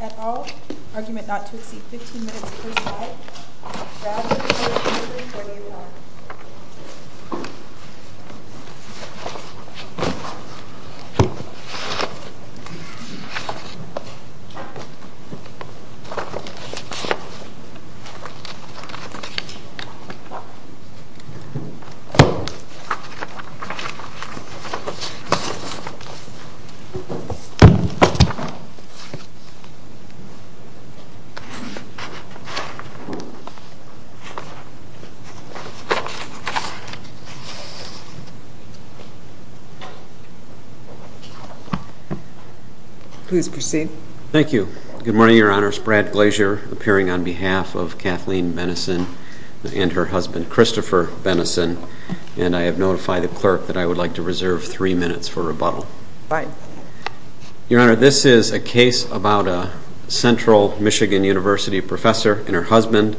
at all. Argument not to exceed 15 minutes per side. Please proceed. Thank you. Good morning, Your Honors. Brad Glazier appearing on behalf of the clerk that I would like to reserve three minutes for rebuttal. Your Honor, this is a case about a Central Michigan University professor and her husband.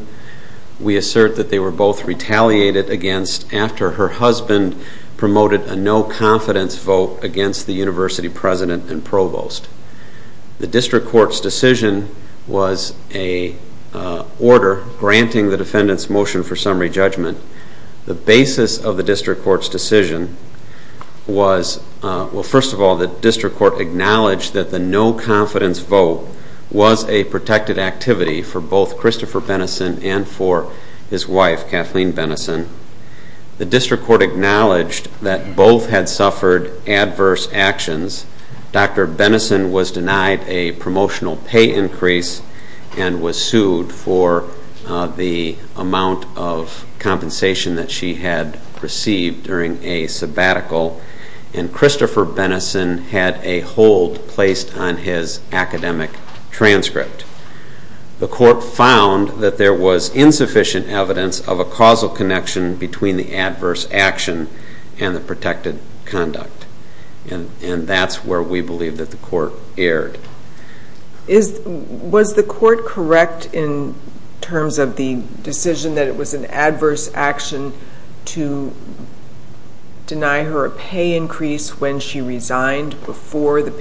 We assert that they were both retaliated against after her husband promoted a no-confidence vote against the university president and provost. The district court's decision was an order granting the defendant's motion for summary judgment. The basis of the district court's decision was, well, first of all, the district court acknowledged that the no-confidence vote was a protected activity for both Christopher Benison and for his wife Kathleen Benison. The district court acknowledged that both had suffered adverse actions. Dr. Benison was denied a promotional pay increase and was sued for the amount of compensation that she had received during a sabbatical. And Christopher Benison had a hold placed on his academic transcript. The court found that there was insufficient evidence of a causal connection between the adverse action and the protected conduct. And that's where we believe that the court erred. Was the court correct in terms of the decision that it was an adverse action to deny her a pay increase when she resigned before the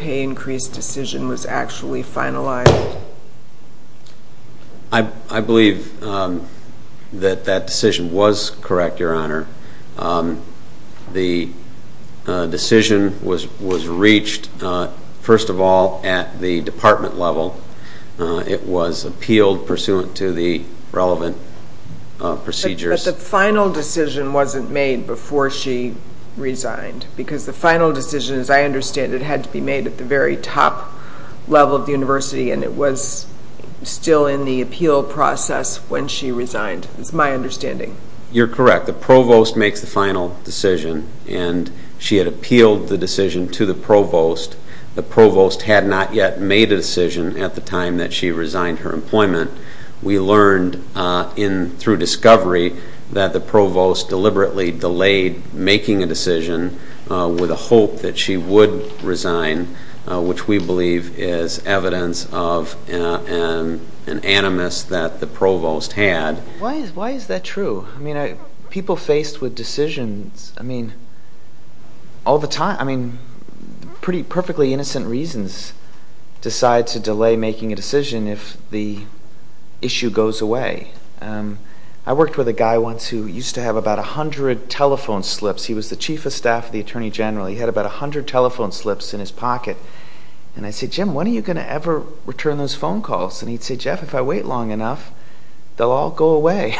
I believe that that decision was correct, Your Honor. The decision was reached, first of all, at the department level. It was appealed pursuant to the relevant procedures. But the final decision wasn't made before she resigned. Because the final decision, as I understand it, had to be made at the very top level of the university and it was still in the appeal process when she resigned, is my understanding. You're correct. The provost makes the final decision and she had appealed the decision to the provost. The provost had not yet made a decision at the time that she resigned her employment. We learned through discovery that the provost deliberately delayed making a decision with a hope that she would resign, which we believe is evidence of an animus that the provost had. Why is that true? People faced with decisions all the time, perfectly innocent reasons, decide to delay making a decision if the issue goes away. I worked with a guy once who used to have about 100 telephone slips. He was the chief of staff of the attorney general. He had about 100 telephone slips in his pocket. I said, Jim, when are you going to ever return those phone calls? He said, Jeff, if I wait long enough, they'll all go away.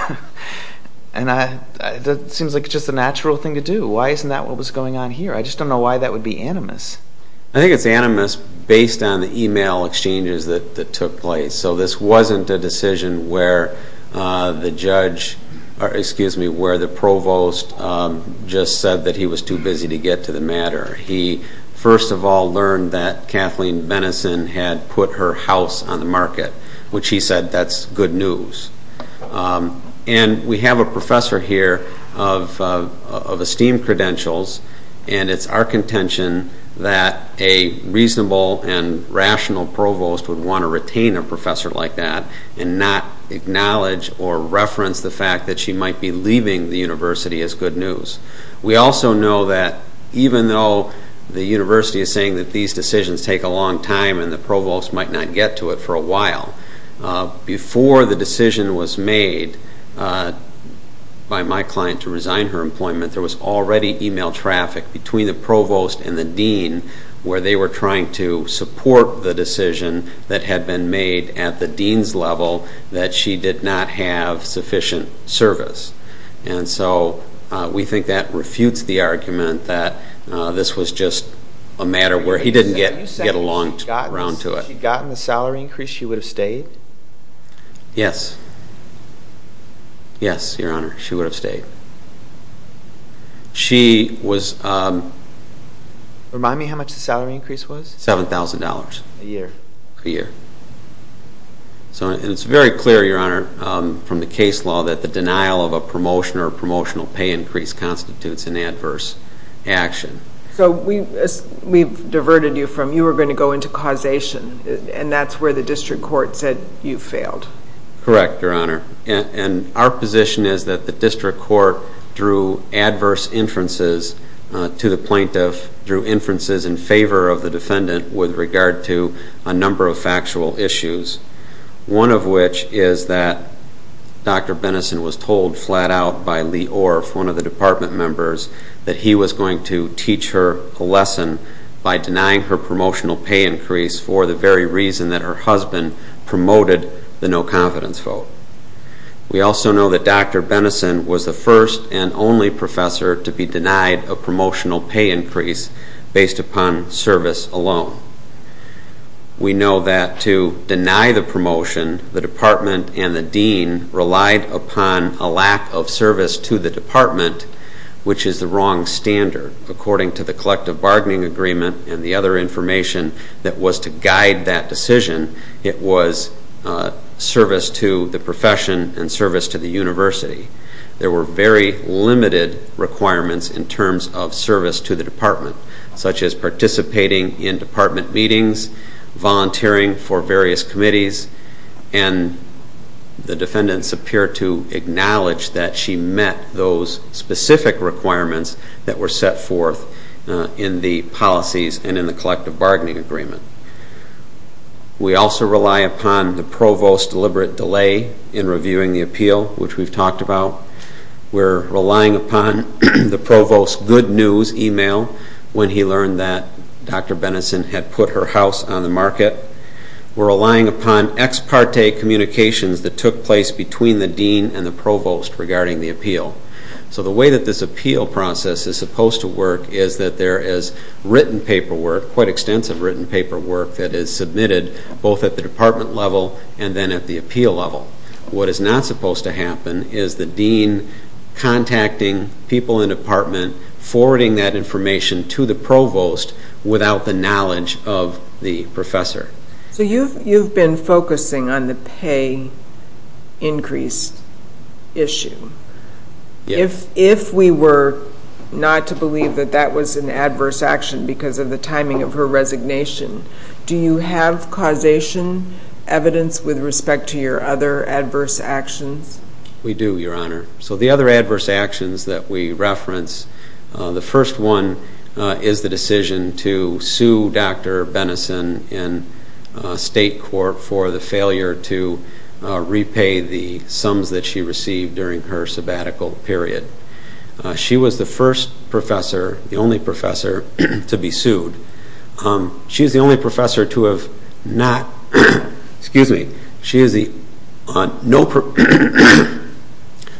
It seems like just a natural thing to do. Why isn't that what was going on here? I just don't know why that would be animus. I think it's animus based on the email exchanges that took place. So this wasn't a decision where the judge, excuse me, where the provost just said that he was too busy to get to the matter. He first of all learned that Kathleen Benison had put her house on the market, which he said that's good news. And we have a professor here of esteemed credentials, and it's our contention that a reasonable and rational provost would want to retain a professor like that and not acknowledge or reference the fact that she might be leaving the university as good news. We also know that even though the university is saying that these decisions take a long time and the provost might not get to it for a while, before the decision was made by my client to resign her employment, there was already email traffic between the provost and the dean where they were trying to support the decision that had been made at the dean's level that she did not have sufficient service. And so we think that refutes the argument that this was just a matter where he didn't get a long round to it. Had she gotten the salary increase, she would have stayed? Yes. Yes, Your Honor, she would have stayed. She was... Remind me how much the salary increase was. $7,000. A year. A year. And it's very clear, Your Honor, from the case law that the denial of a promotion or promotional pay increase constitutes an adverse action. So we've diverted you from, you were going to go into causation, and that's where the district court said you failed. Correct, Your Honor. And our position is that the district court drew adverse inferences to the plaintiff, drew inferences in favor of the defendant with regard to a number of factual issues, one of which is that Dr. Benison was told flat out by Lee Orff, one of the department members, that he was going to teach her a lesson by denying her promotional pay increase for the very reason that her husband promoted the no-confidence vote. We also know that Dr. Benison was the first and only professor to be denied a promotional pay increase based upon service alone. We know that to deny the promotion, the department and the dean relied upon a lack of service to the department, which is the wrong standard. According to the collective bargaining agreement and the other information that was to guide that decision, it was service to the profession and service to the university. There were very limited requirements in terms of service to the department, such as participating in department meetings, volunteering for various committees, and the defendants appear to acknowledge that she met those specific requirements that were set forth in the policies and in the collective bargaining agreement. We also rely upon the provost's deliberate delay in reviewing the appeal, which we've talked about. We're relying upon the provost's good news email when he learned that Dr. Benison had put her house on the market. We're relying upon ex parte communications that took place between the dean and the provost regarding the appeal. So the way that this appeal process is supposed to work is that there is written paperwork, quite extensive written paperwork, that is submitted both at the department level and then at the appeal level. What is not supposed to happen is the dean contacting people in the department, forwarding that information to the provost without the knowledge of the professor. So you've been focusing on the pay increase issue. Yes. If we were not to believe that that was an adverse action because of the timing of her resignation, do you have causation evidence with respect to your other adverse actions? We do, Your Honor. So the other adverse actions that we reference, the first one is the decision to sue Dr. Benison in state court for the failure to repay the sums that she received during her sabbatical period. She was the first professor, the only professor, to be sued. She was the only professor to have not, excuse me,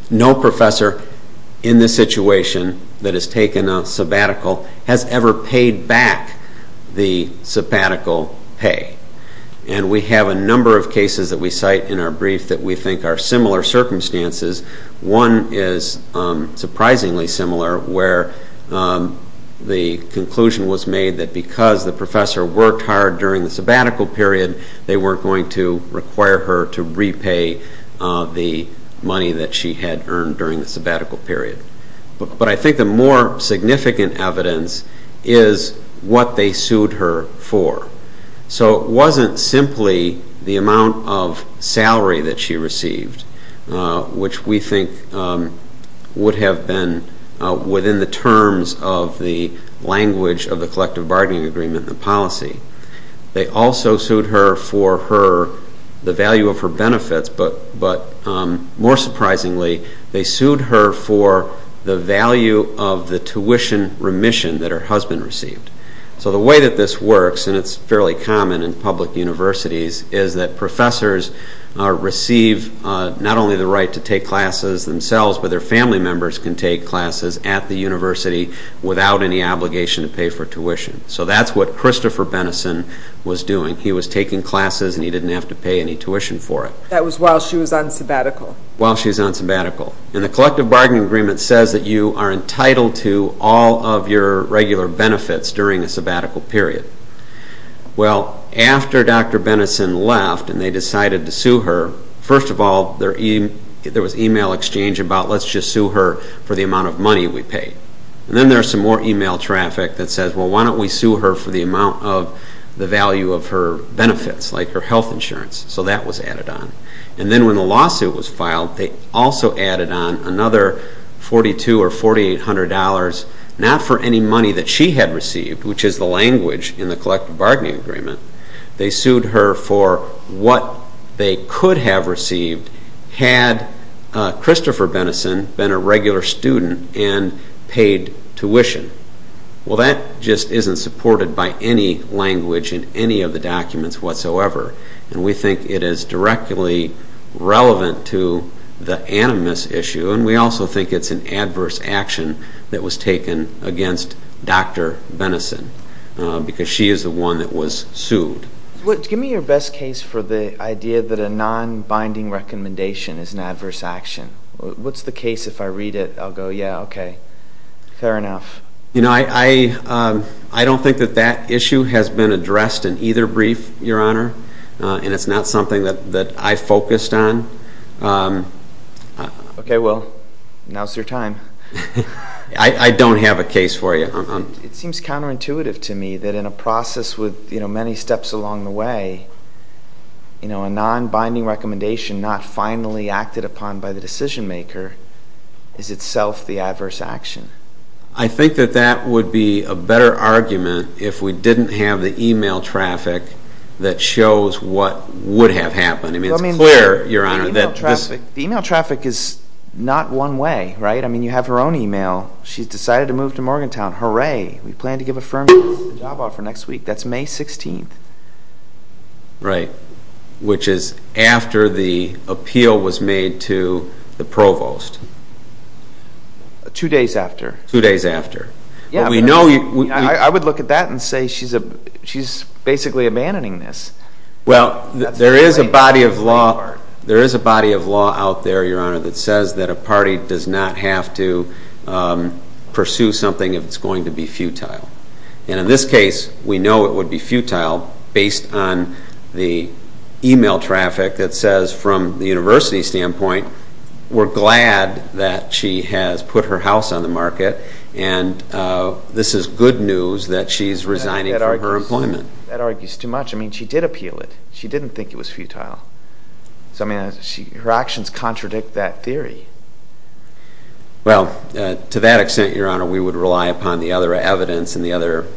no professor in this situation that has taken a sabbatical has ever paid back the sabbatical pay. And we have a number of cases that we cite in our brief that we think are similar circumstances. One is surprisingly similar where the conclusion was made that because the professor worked hard during the sabbatical period, they weren't going to require her to repay the money that she had earned during the sabbatical period. But I think the more significant evidence is what they sued her for. So it wasn't simply the amount of salary that she received, which we think would have been within the terms of the language of the collective bargaining agreement and policy. They also sued her for the value of her benefits, but more surprisingly, they sued her for the value of the tuition remission that her husband received. So the way that this works, and it's fairly common in public universities, is that professors receive not only the right to take classes themselves, but their family members can take classes at the university without any obligation to pay for tuition. So that's what Christopher Benison was doing. He was taking classes and he didn't have to pay any tuition for it. That was while she was on sabbatical. While she was on sabbatical. And the collective bargaining agreement says that you are entitled to all of your regular benefits during a sabbatical period. Well, after Dr. Benison left and they decided to sue her, first of all, there was email exchange about let's just sue her for the amount of money we paid. And then there's some more email traffic that says, well, why don't we sue her for the amount of the value of her benefits, like her health insurance. So that was added on. And then when the lawsuit was filed, they also added on another $4,200 or $4,800, not for any money that she had received, which is the language in the collective bargaining agreement. They sued her for what they could have received had Christopher Benison been a regular student and paid tuition. Well, that just isn't supported by any language in any of the documents whatsoever. And we think it is directly relevant to the animus issue. And we also think it's an adverse action that was taken against Dr. Benison because she is the one that was sued. Give me your best case for the idea that a non-binding recommendation is an adverse action. What's the case if I read it, I'll go, yeah, okay. Fair enough. You know, I don't think that that issue has been addressed in either brief, Your Honor, and it's not something that I focused on. Okay, well, now's your time. I don't have a case for you. It seems counterintuitive to me that in a process with many steps along the way, you know, a non-binding recommendation not finally acted upon by the decision maker is itself the adverse action. I think that that would be a better argument if we didn't have the e-mail traffic that shows what would have happened. I mean, it's clear, Your Honor, that this. The e-mail traffic is not one way, right? I mean, you have her own e-mail. She's decided to move to Morgantown. Hooray. We plan to give a firm job offer next week. That's May 16th. Right, which is after the appeal was made to the provost. Two days after. Two days after. I would look at that and say she's basically abandoning this. Well, there is a body of law out there, Your Honor, that says that a party does not have to pursue something if it's going to be futile. And in this case, we know it would be futile based on the e-mail traffic that says, from the university standpoint, we're glad that she has put her house on the market and this is good news that she's resigning from her employment. That argues too much. I mean, she did appeal it. She didn't think it was futile. So, I mean, her actions contradict that theory. Well, to that extent, Your Honor, we would rely upon the other evidence and the other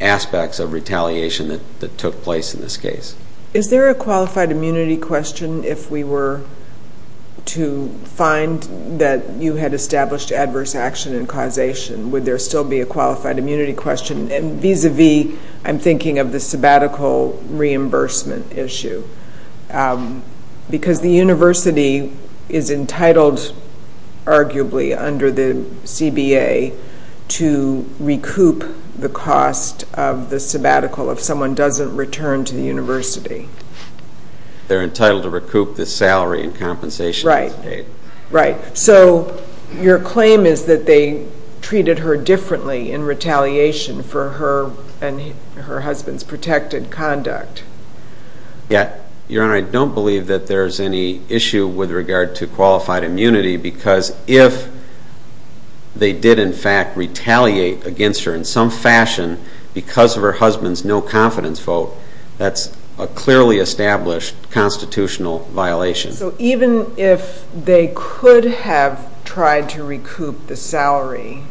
aspects of retaliation that took place in this case. Is there a qualified immunity question? If we were to find that you had established adverse action and causation, would there still be a qualified immunity question? And vis-à-vis, I'm thinking of the sabbatical reimbursement issue. Because the university is entitled, arguably, under the CBA to recoup the cost of the sabbatical if someone doesn't return to the university. They're entitled to recoup the salary and compensation. Right. So your claim is that they treated her differently in retaliation for her and her husband's protected conduct. Yeah. Your Honor, I don't believe that there's any issue with regard to qualified immunity because if they did, in fact, retaliate against her in some fashion because of her husband's no-confidence vote, that's a clearly established constitutional violation. So even if they could have tried to recoup the salary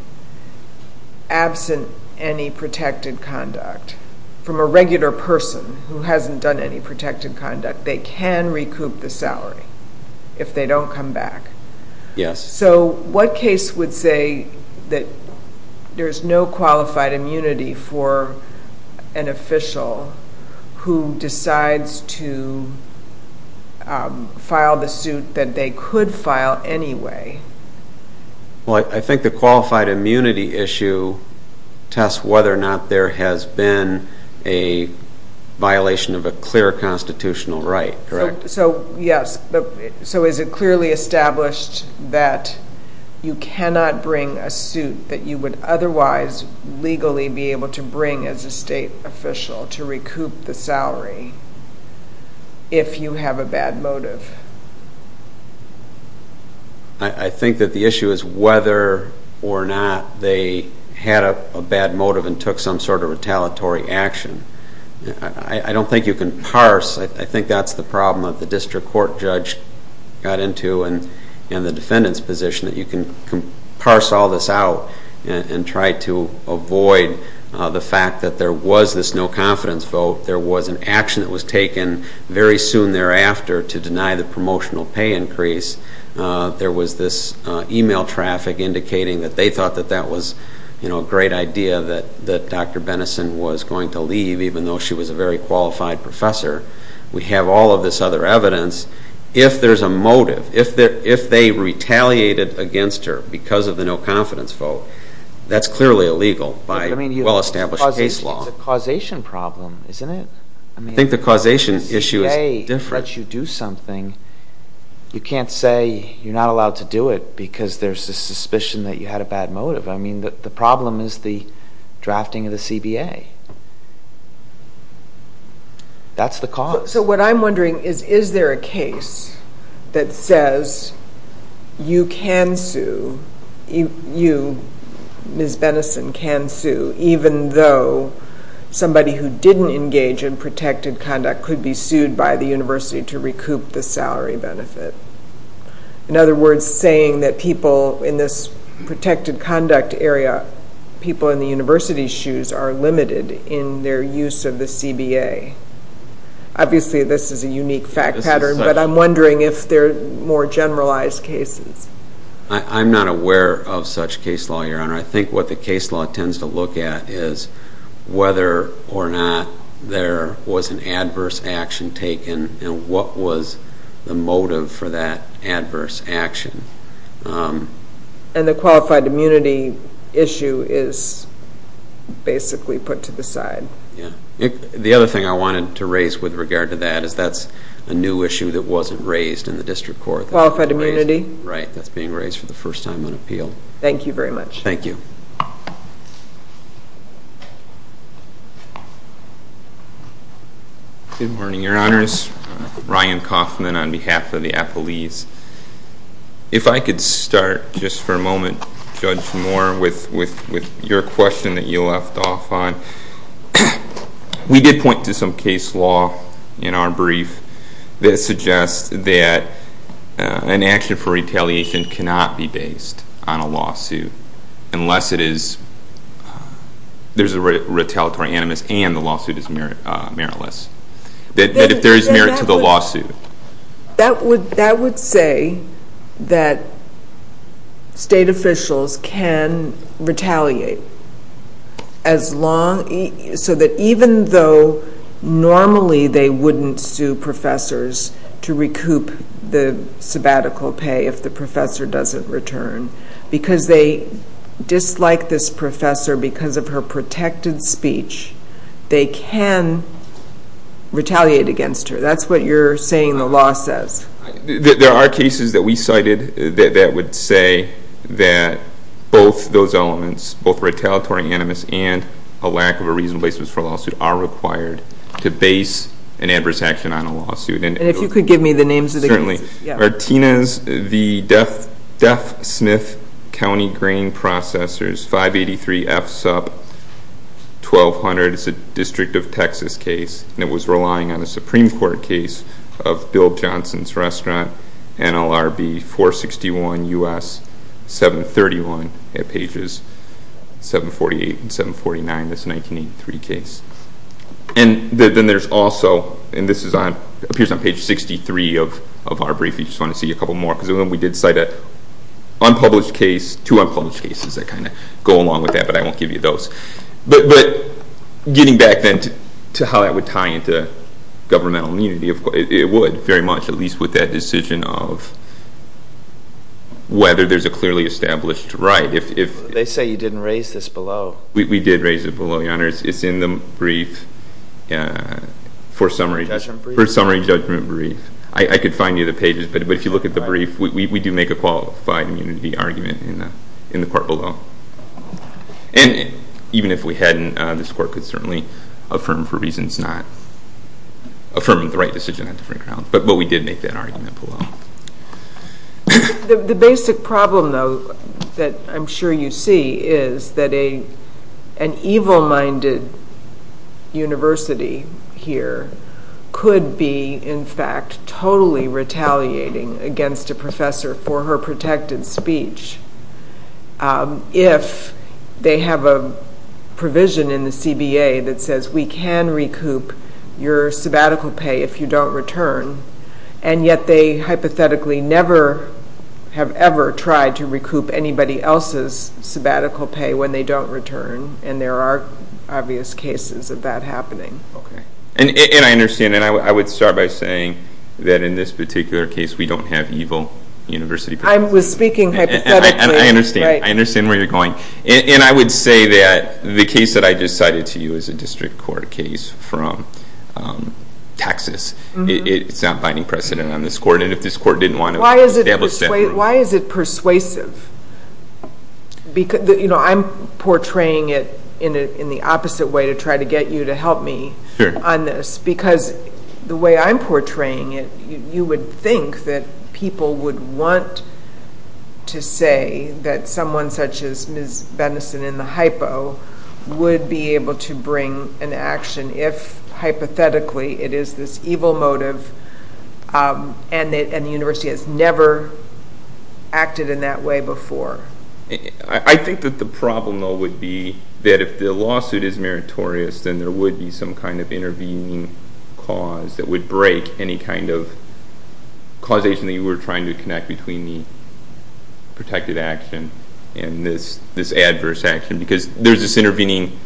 absent any protected conduct from a regular person who hasn't done any protected conduct, they can recoup the salary if they don't come back. Yes. So what case would say that there's no qualified immunity for an official who decides to file the suit that they could file anyway? Well, I think the qualified immunity issue tests whether or not there has been a violation of a clear constitutional right, correct? So, yes. So is it clearly established that you cannot bring a suit that you would otherwise legally be able to bring as a state official to recoup the salary if you have a bad motive? I think that the issue is whether or not they had a bad motive and took some sort of retaliatory action. I don't think you can parse. I think that's the problem that the district court judge got into and the defendant's position that you can parse all this out and try to avoid the fact that there was this no-confidence vote, there was an action that was taken very soon thereafter to deny the promotional pay increase, there was this e-mail traffic indicating that they thought that that was a great idea that Dr. Benison was going to leave even though she was a very qualified professor. We have all of this other evidence. If there's a motive, if they retaliated against her because of the no-confidence vote, that's clearly illegal by well-established case law. It's a causation problem, isn't it? I think the causation issue is different. The CBA lets you do something. You can't say you're not allowed to do it because there's a suspicion that you had a bad motive. I mean, the problem is the drafting of the CBA. That's the cause. So what I'm wondering is, is there a case that says you can sue, you, Ms. Benison, can sue even though somebody who didn't engage in protected conduct could be sued by the university to recoup the salary benefit? In other words, saying that people in this protected conduct area, people in the university's shoes, are limited in their use of the CBA. Obviously, this is a unique fact pattern, but I'm wondering if there are more generalized cases. I'm not aware of such case law, Your Honor. I think what the case law tends to look at is whether or not there was an adverse action taken and what was the motive for that adverse action. And the qualified immunity issue is basically put to the side. Yeah. The other thing I wanted to raise with regard to that is that's a new issue that wasn't raised in the district court. Qualified immunity? Right. That's being raised for the first time on appeal. Thank you very much. Thank you. Good morning, Your Honors. Ryan Kaufman on behalf of the appellees. If I could start just for a moment, Judge Moore, with your question that you left off on. We did point to some case law in our brief that suggests that an action for retaliation cannot be based on a lawsuit unless there's a retaliatory animus and the lawsuit is meritless, that there is merit to the lawsuit. That would say that state officials can retaliate so that even though normally they wouldn't sue professors to recoup the sabbatical pay if the professor doesn't return, because they dislike this professor because of her protected speech, they can retaliate against her. That's what you're saying the law says. There are cases that we cited that would say that both those elements, both retaliatory animus and a lack of a reasonable basis for a lawsuit, are required to base an adverse action on a lawsuit. And if you could give me the names of the cases. Certainly. Martinez v. Deaf Smith County Grain Processors, 583 F. Supp, 1200. It's a District of Texas case, and it was relying on a Supreme Court case of Bill Johnson's Restaurant, NLRB 461 U.S. 731. It's on pages 748 and 749, this 1983 case. And then there's also, and this appears on page 63 of our brief, if you just want to see a couple more, because we did cite two unpublished cases that kind of go along with that, but I won't give you those. But getting back then to how that would tie into governmental immunity, it would very much, at least with that decision of whether there's a clearly established right. They say you didn't raise this below. We did raise it below, Your Honor. It's in the brief for summary judgment brief. I could find you the pages, but if you look at the brief, we do make a qualified immunity argument in the court below. And even if we hadn't, this court could certainly affirm for reasons not, affirm the right decision on different grounds. But we did make that argument below. The basic problem, though, that I'm sure you see, is that an evil-minded university here could be, in fact, totally retaliating against a professor for her protected speech if they have a provision in the CBA that says we can recoup your sabbatical pay if you don't return, and yet they hypothetically never have ever tried to recoup anybody else's sabbatical pay when they don't return, and there are obvious cases of that happening. Okay. And I understand. And I would start by saying that in this particular case, we don't have evil university professors. I was speaking hypothetically. And I understand. I understand where you're going. And I would say that the case that I just cited to you is a district court case from Texas. It's not binding precedent on this court, and if this court didn't want to establish that. Why is it persuasive? I'm portraying it in the opposite way to try to get you to help me on this, because the way I'm portraying it, you would think that people would want to say that someone such as if, hypothetically, it is this evil motive and the university has never acted in that way before. I think that the problem, though, would be that if the lawsuit is meritorious, then there would be some kind of intervening cause that would break any kind of causation that you were trying to connect between the protected action and this adverse action, because there's this intervening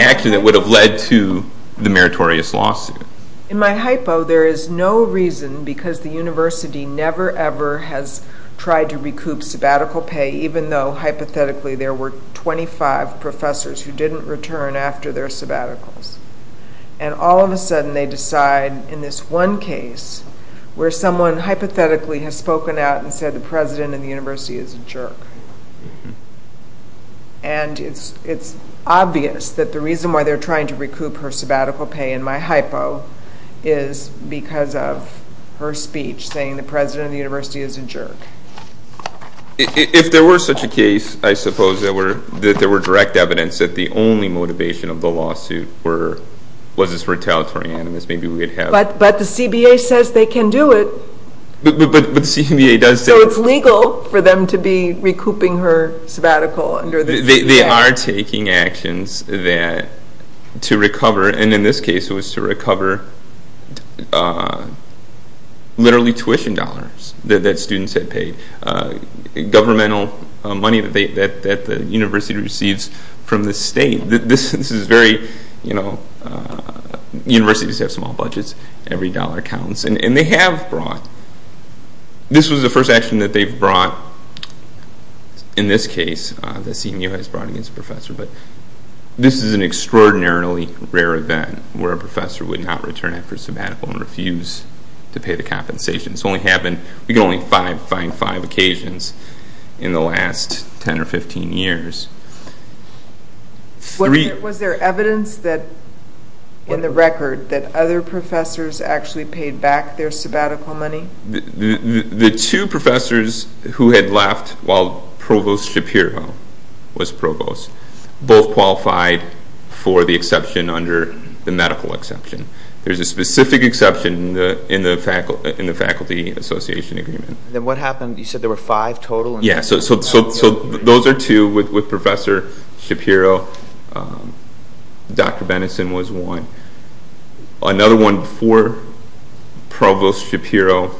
action that would have led to the meritorious lawsuit. In my hypo, there is no reason, because the university never, ever has tried to recoup sabbatical pay, even though, hypothetically, there were 25 professors who didn't return after their sabbaticals. And all of a sudden they decide in this one case where someone hypothetically has spoken out and said the president of the university is a jerk. And it's obvious that the reason why they're trying to recoup her sabbatical pay, in my hypo, is because of her speech, saying the president of the university is a jerk. If there were such a case, I suppose, that there were direct evidence that the only motivation of the lawsuit was this retaliatory animus, maybe we would have... But the CBA says they can do it. But the CBA does say... So it's legal for them to be recouping her sabbatical under the CBA. They are taking actions to recover, and in this case it was to recover literally tuition dollars that students had paid, governmental money that the university receives from the state. This is very... Universities have small budgets. Every dollar counts. And they have brought... This was the first action that they've brought, in this case, that CBA has brought against a professor, but this is an extraordinarily rare event where a professor would not return after a sabbatical and refuse to pay the compensation. This only happened... We can only find five occasions in the last 10 or 15 years. Was there evidence that, in the record, that other professors actually paid back their sabbatical money? The two professors who had left while Provost Shapiro was provost both qualified for the exception under the medical exception. There's a specific exception in the Faculty Association Agreement. Then what happened? You said there were five total? Yes. So those are two with Professor Shapiro. Dr. Benenson was one. Another one before Provost Shapiro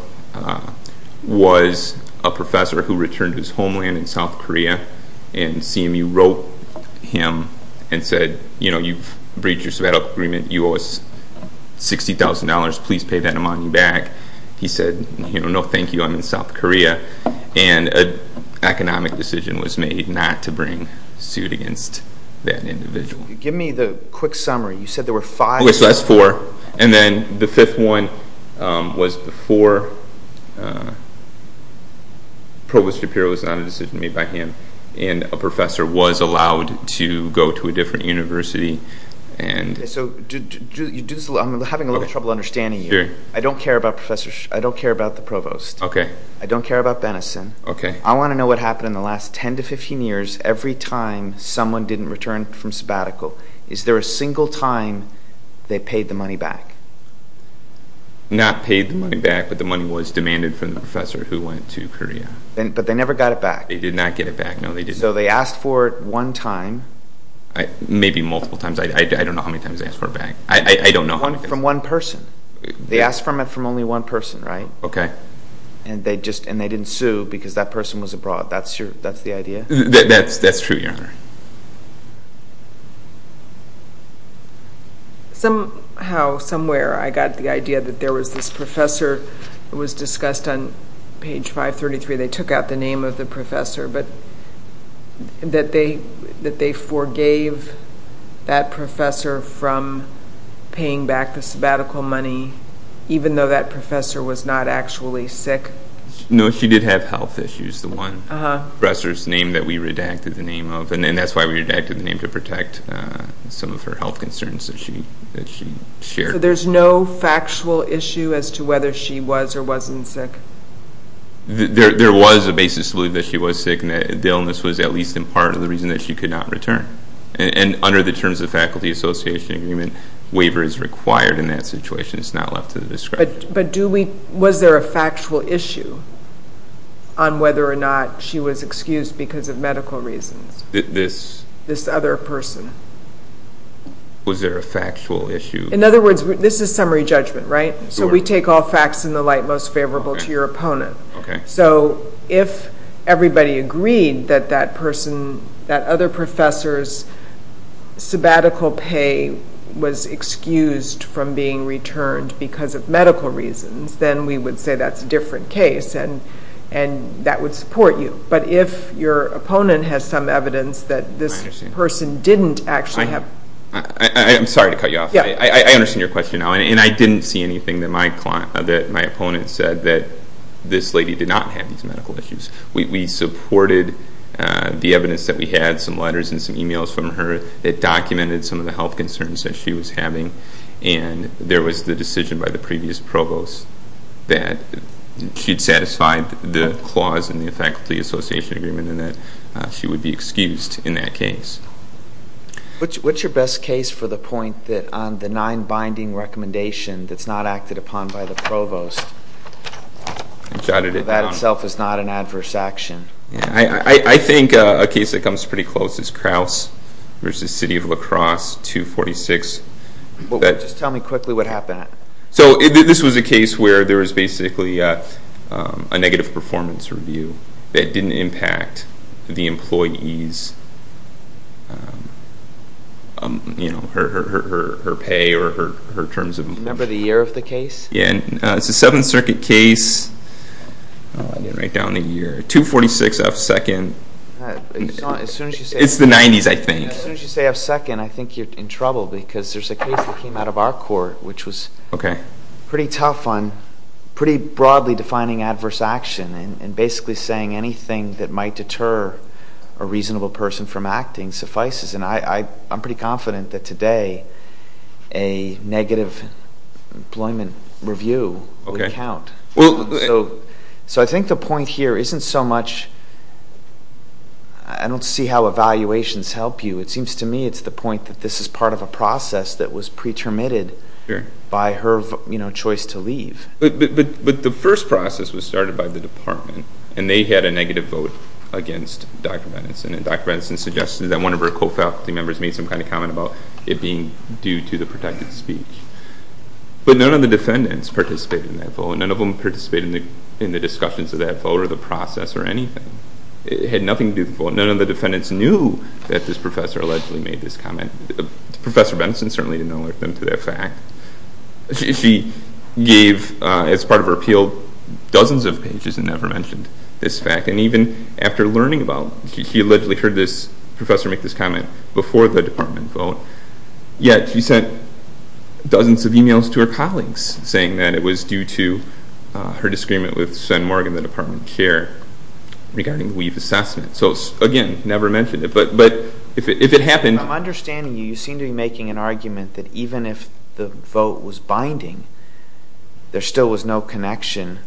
was a professor who returned to his homeland in South Korea, and CMU wrote him and said, you know, you've breached your sabbatical agreement. You owe us $60,000. Please pay that amount back. He said, no, thank you. I'm in South Korea. And an economic decision was made not to bring suit against that individual. Give me the quick summary. You said there were five? Okay, so that's four. And then the fifth one was before Provost Shapiro. It was not a decision made by him. And a professor was allowed to go to a different university. So I'm having a little trouble understanding you. I don't care about the provost. I don't care about Benenson. I want to know what happened in the last 10 to 15 years every time someone didn't return from sabbatical. Is there a single time they paid the money back? Not paid the money back, but the money was demanded from the professor who went to Korea. But they never got it back. They did not get it back. No, they didn't. So they asked for it one time. Maybe multiple times. I don't know how many times they asked for it back. I don't know how many times. From one person. They asked for it from only one person, right? Okay. And they didn't sue because that person was abroad. That's the idea? That's true, Your Honor. Somehow, somewhere, I got the idea that there was this professor who was discussed on page 533. They took out the name of the professor. But that they forgave that professor from paying back the sabbatical money, even though that professor was not actually sick? No, she did have health issues, the one. The professor's name that we redacted the name of. And that's why we redacted the name, to protect some of her health concerns that she shared. So there's no factual issue as to whether she was or wasn't sick? There was a basis to believe that she was sick and that the illness was at least in part of the reason that she could not return. And under the terms of the Faculty Association Agreement, waiver is required in that situation. It's not left to the discretion. But was there a factual issue on whether or not she was excused because of medical reasons? This? This other person. Was there a factual issue? In other words, this is summary judgment, right? Sure. So we take all facts in the light most favorable to your opponent. So if everybody agreed that that person, that other professor's sabbatical pay was excused from being returned because of medical reasons, then we would say that's a different case. And that would support you. But if your opponent has some evidence that this person didn't actually have... I'm sorry to cut you off. I understand your question now. And I didn't see anything that my opponent said that this lady did not have these medical issues. We supported the evidence that we had, some letters and some emails from her that documented some of the health concerns that she was having. And there was the decision by the previous provost that she'd satisfied the clause in the Faculty Association Agreement and that she would be excused in that case. What's your best case for the point that on the nine-binding recommendation that's not acted upon by the provost, that itself is not an adverse action? I think a case that comes pretty close is Crouse v. City of La Crosse, 246. Well, just tell me quickly what happened. So this was a case where there was basically a negative performance review that didn't impact the employee's, you know, her pay or her terms of employment. Remember the year of the case? Yeah, it's a Seventh Circuit case. I didn't write down the year. 246 F. 2nd. It's the 90s, I think. As soon as you say F. 2nd, I think you're in trouble because there's a case that came out of our court which was pretty tough on pretty broadly defining adverse action and basically saying anything that might deter a reasonable person from acting suffices. a negative employment review would count. So I think the point here isn't so much... I don't see how evaluations help you. It seems to me it's the point that this is part of a process that was pretermitted by her, you know, choice to leave. But the first process was started by the department and they had a negative vote against Dr. Benenson and Dr. Benenson suggested that one of her co-faculty members made some kind of comment about it being due to the protected speech. But none of the defendants participated in that vote. None of them participated in the discussions of that vote or the process or anything. It had nothing to do with the vote. None of the defendants knew that this professor allegedly made this comment. Professor Benenson certainly didn't alert them to that fact. She gave, as part of her appeal, dozens of pages and never mentioned this fact. And even after learning about it, she allegedly heard this professor make this comment before the department vote, yet she sent dozens of emails to her colleagues saying that it was due to her disagreement with Shen Morgan, the department chair, regarding the leave assessment. So again, never mentioned it. But if it happened... I'm understanding you seem to be making an argument that even if the vote was binding, there still was no connection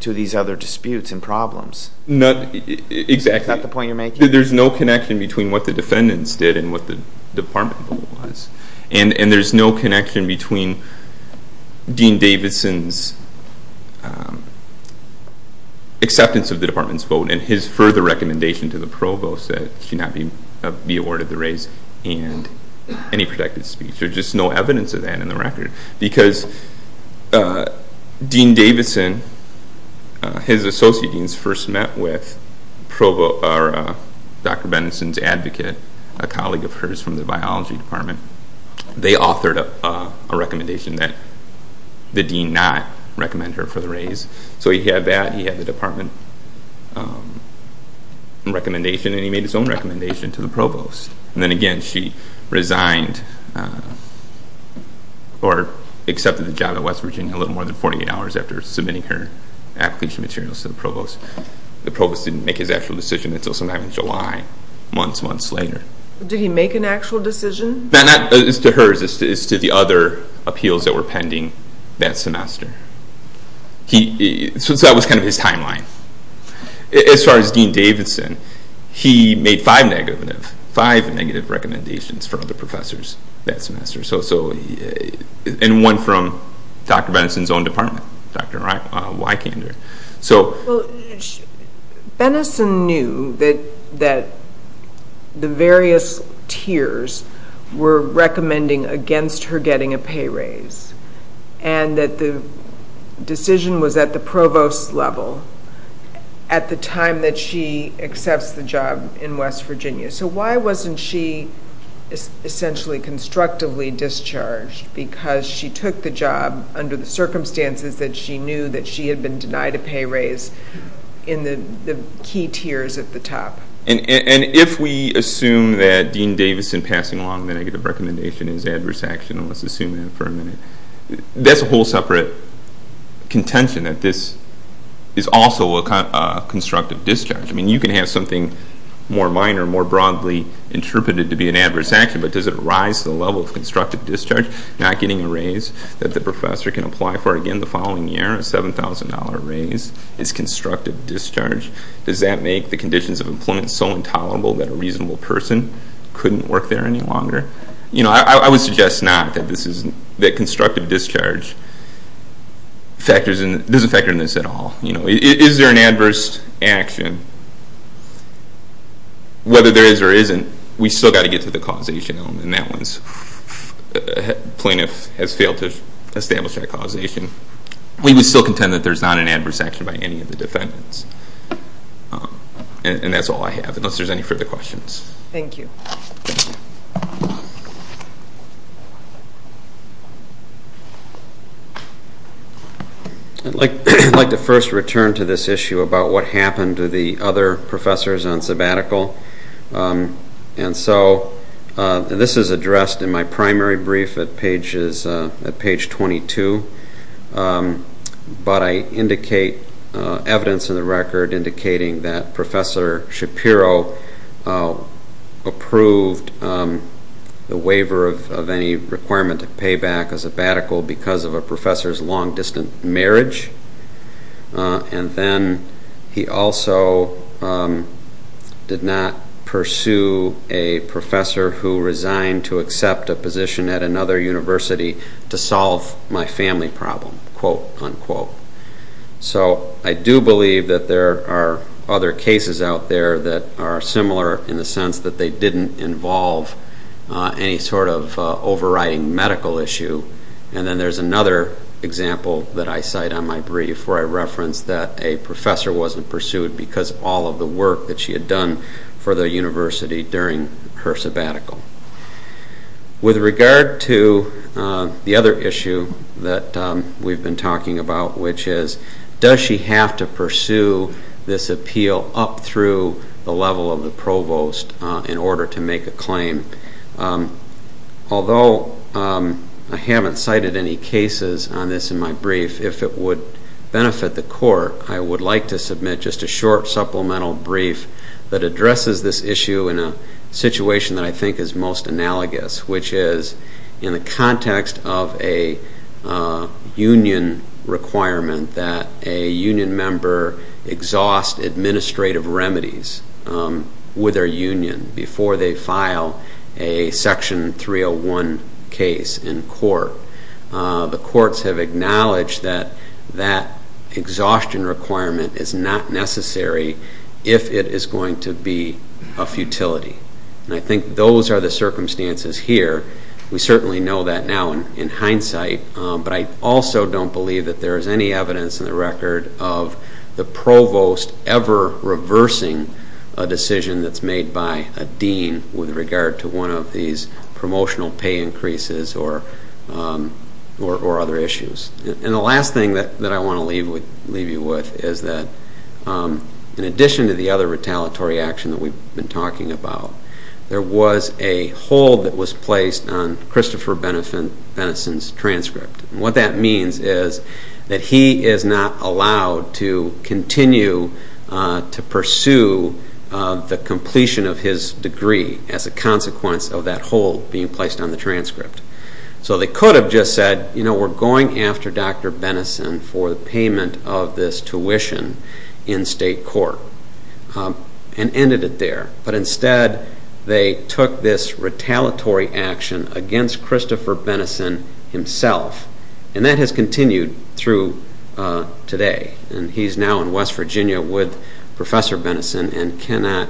to these other disputes and problems. Not exactly. Is that the point you're making? There's no connection between what the defendants did and what the department vote was. And there's no connection between Dean Davidson's acceptance of the department's vote and his further recommendation to the provost that she not be awarded the raise and any protected speech. There's just no evidence of that in the record. Because Dean Davidson, his associate deans first met with Dr. Benenson's advocate, a colleague of hers from the biology department. They authored a recommendation that the dean not recommend her for the raise. So he had that, he had the department recommendation, and he made his own recommendation to the provost. And then again, she resigned or accepted the job at West Virginia a little more than 48 hours after submitting her application materials to the provost. The provost didn't make his actual decision until sometime in July, months, months later. Did he make an actual decision? It's to hers, it's to the other appeals that were pending that semester. So that was kind of his timeline. As far as Dean Davidson, he made five negative, five negative recommendations for other professors that semester. And one from Dr. Benenson's own department, Dr. Wykander. Well, Benenson knew that the various tiers were recommending against her getting a pay raise and that the decision was at the provost's level at the time that she accepts the job in West Virginia. So why wasn't she essentially constructively discharged? Because she took the job under the circumstances that she knew that she had been denied a pay raise in the key tiers at the top. And if we assume that Dean Davidson passing along the negative recommendation is adverse action, and let's assume that for a minute, that's a whole separate contention that this is also a constructive discharge. I mean, you can have something more minor, more broadly interpreted to be an adverse action, but does it rise to the level of constructive discharge, not getting a raise that the professor can apply for? Again, the following year, a $7,000 raise is constructive discharge. Does that make the conditions of employment so intolerable that a reasonable person couldn't work there any longer? I would suggest not that constructive discharge doesn't factor in this at all. Is there an adverse action? Whether there is or isn't, we've still got to get to the causation element, and that one's... Plaintiff has failed to establish that causation. We would still contend that there's not an adverse action by any of the defendants. And that's all I have, unless there's any further questions. Thank you. I'd like to first return to this issue about what happened to the other professors on sabbatical. And so this is addressed in my primary brief at page 22. But I indicate evidence in the record indicating that Professor Shapiro approved the waiver of any requirement to pay back a sabbatical because of a professor's long-distant marriage. And then he also did not pursue a professor who resigned to accept a position at another university to solve my family problem, quote-unquote. So I do believe that there are other cases out there that are similar in the sense that they didn't involve any sort of overriding medical issue. And then there's another example that I cite on my brief where I reference that a professor wasn't pursued because of all of the work that she had done for the university during her sabbatical. With regard to the other issue that we've been talking about, which is, does she have to pursue this appeal up through the level of the provost in order to make a claim? Although I haven't cited any cases on this in my brief, if it would benefit the Court, I would like to submit just a short supplemental brief that addresses this issue in a situation that I think is most analogous, which is in the context of a union requirement that a union member exhaust administrative remedies with their union before they file a Section 301 case in court. The courts have acknowledged that that exhaustion requirement is not necessary if it is going to be a futility. And I think those are the circumstances here. We certainly know that now in hindsight, but I also don't believe that there is any evidence in the record of the provost ever reversing a decision that's made by a dean with regard to one of these promotional pay increases or other issues. And the last thing that I want to leave you with is that in addition to the other retaliatory action that we've been talking about, there was a hold that was placed on Christopher Beneson's transcript. And what that means is that he is not allowed to continue to pursue the completion of his degree as a consequence of that hold being placed on the transcript. So they could have just said, you know, we're going after Dr. Beneson for the payment of this tuition in state court and ended it there. But instead they took this retaliatory action against Christopher Beneson himself. And that has continued through today. And he's now in West Virginia with Professor Beneson and cannot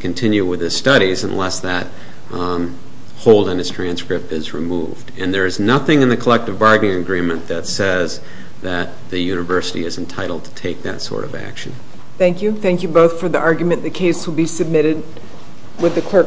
continue with his studies unless that hold on his transcript is removed. And there is nothing in the collective bargaining agreement that says that the university is entitled to take that sort of action. Thank you. Thank you both for the argument. The case will be submitted with the clerk.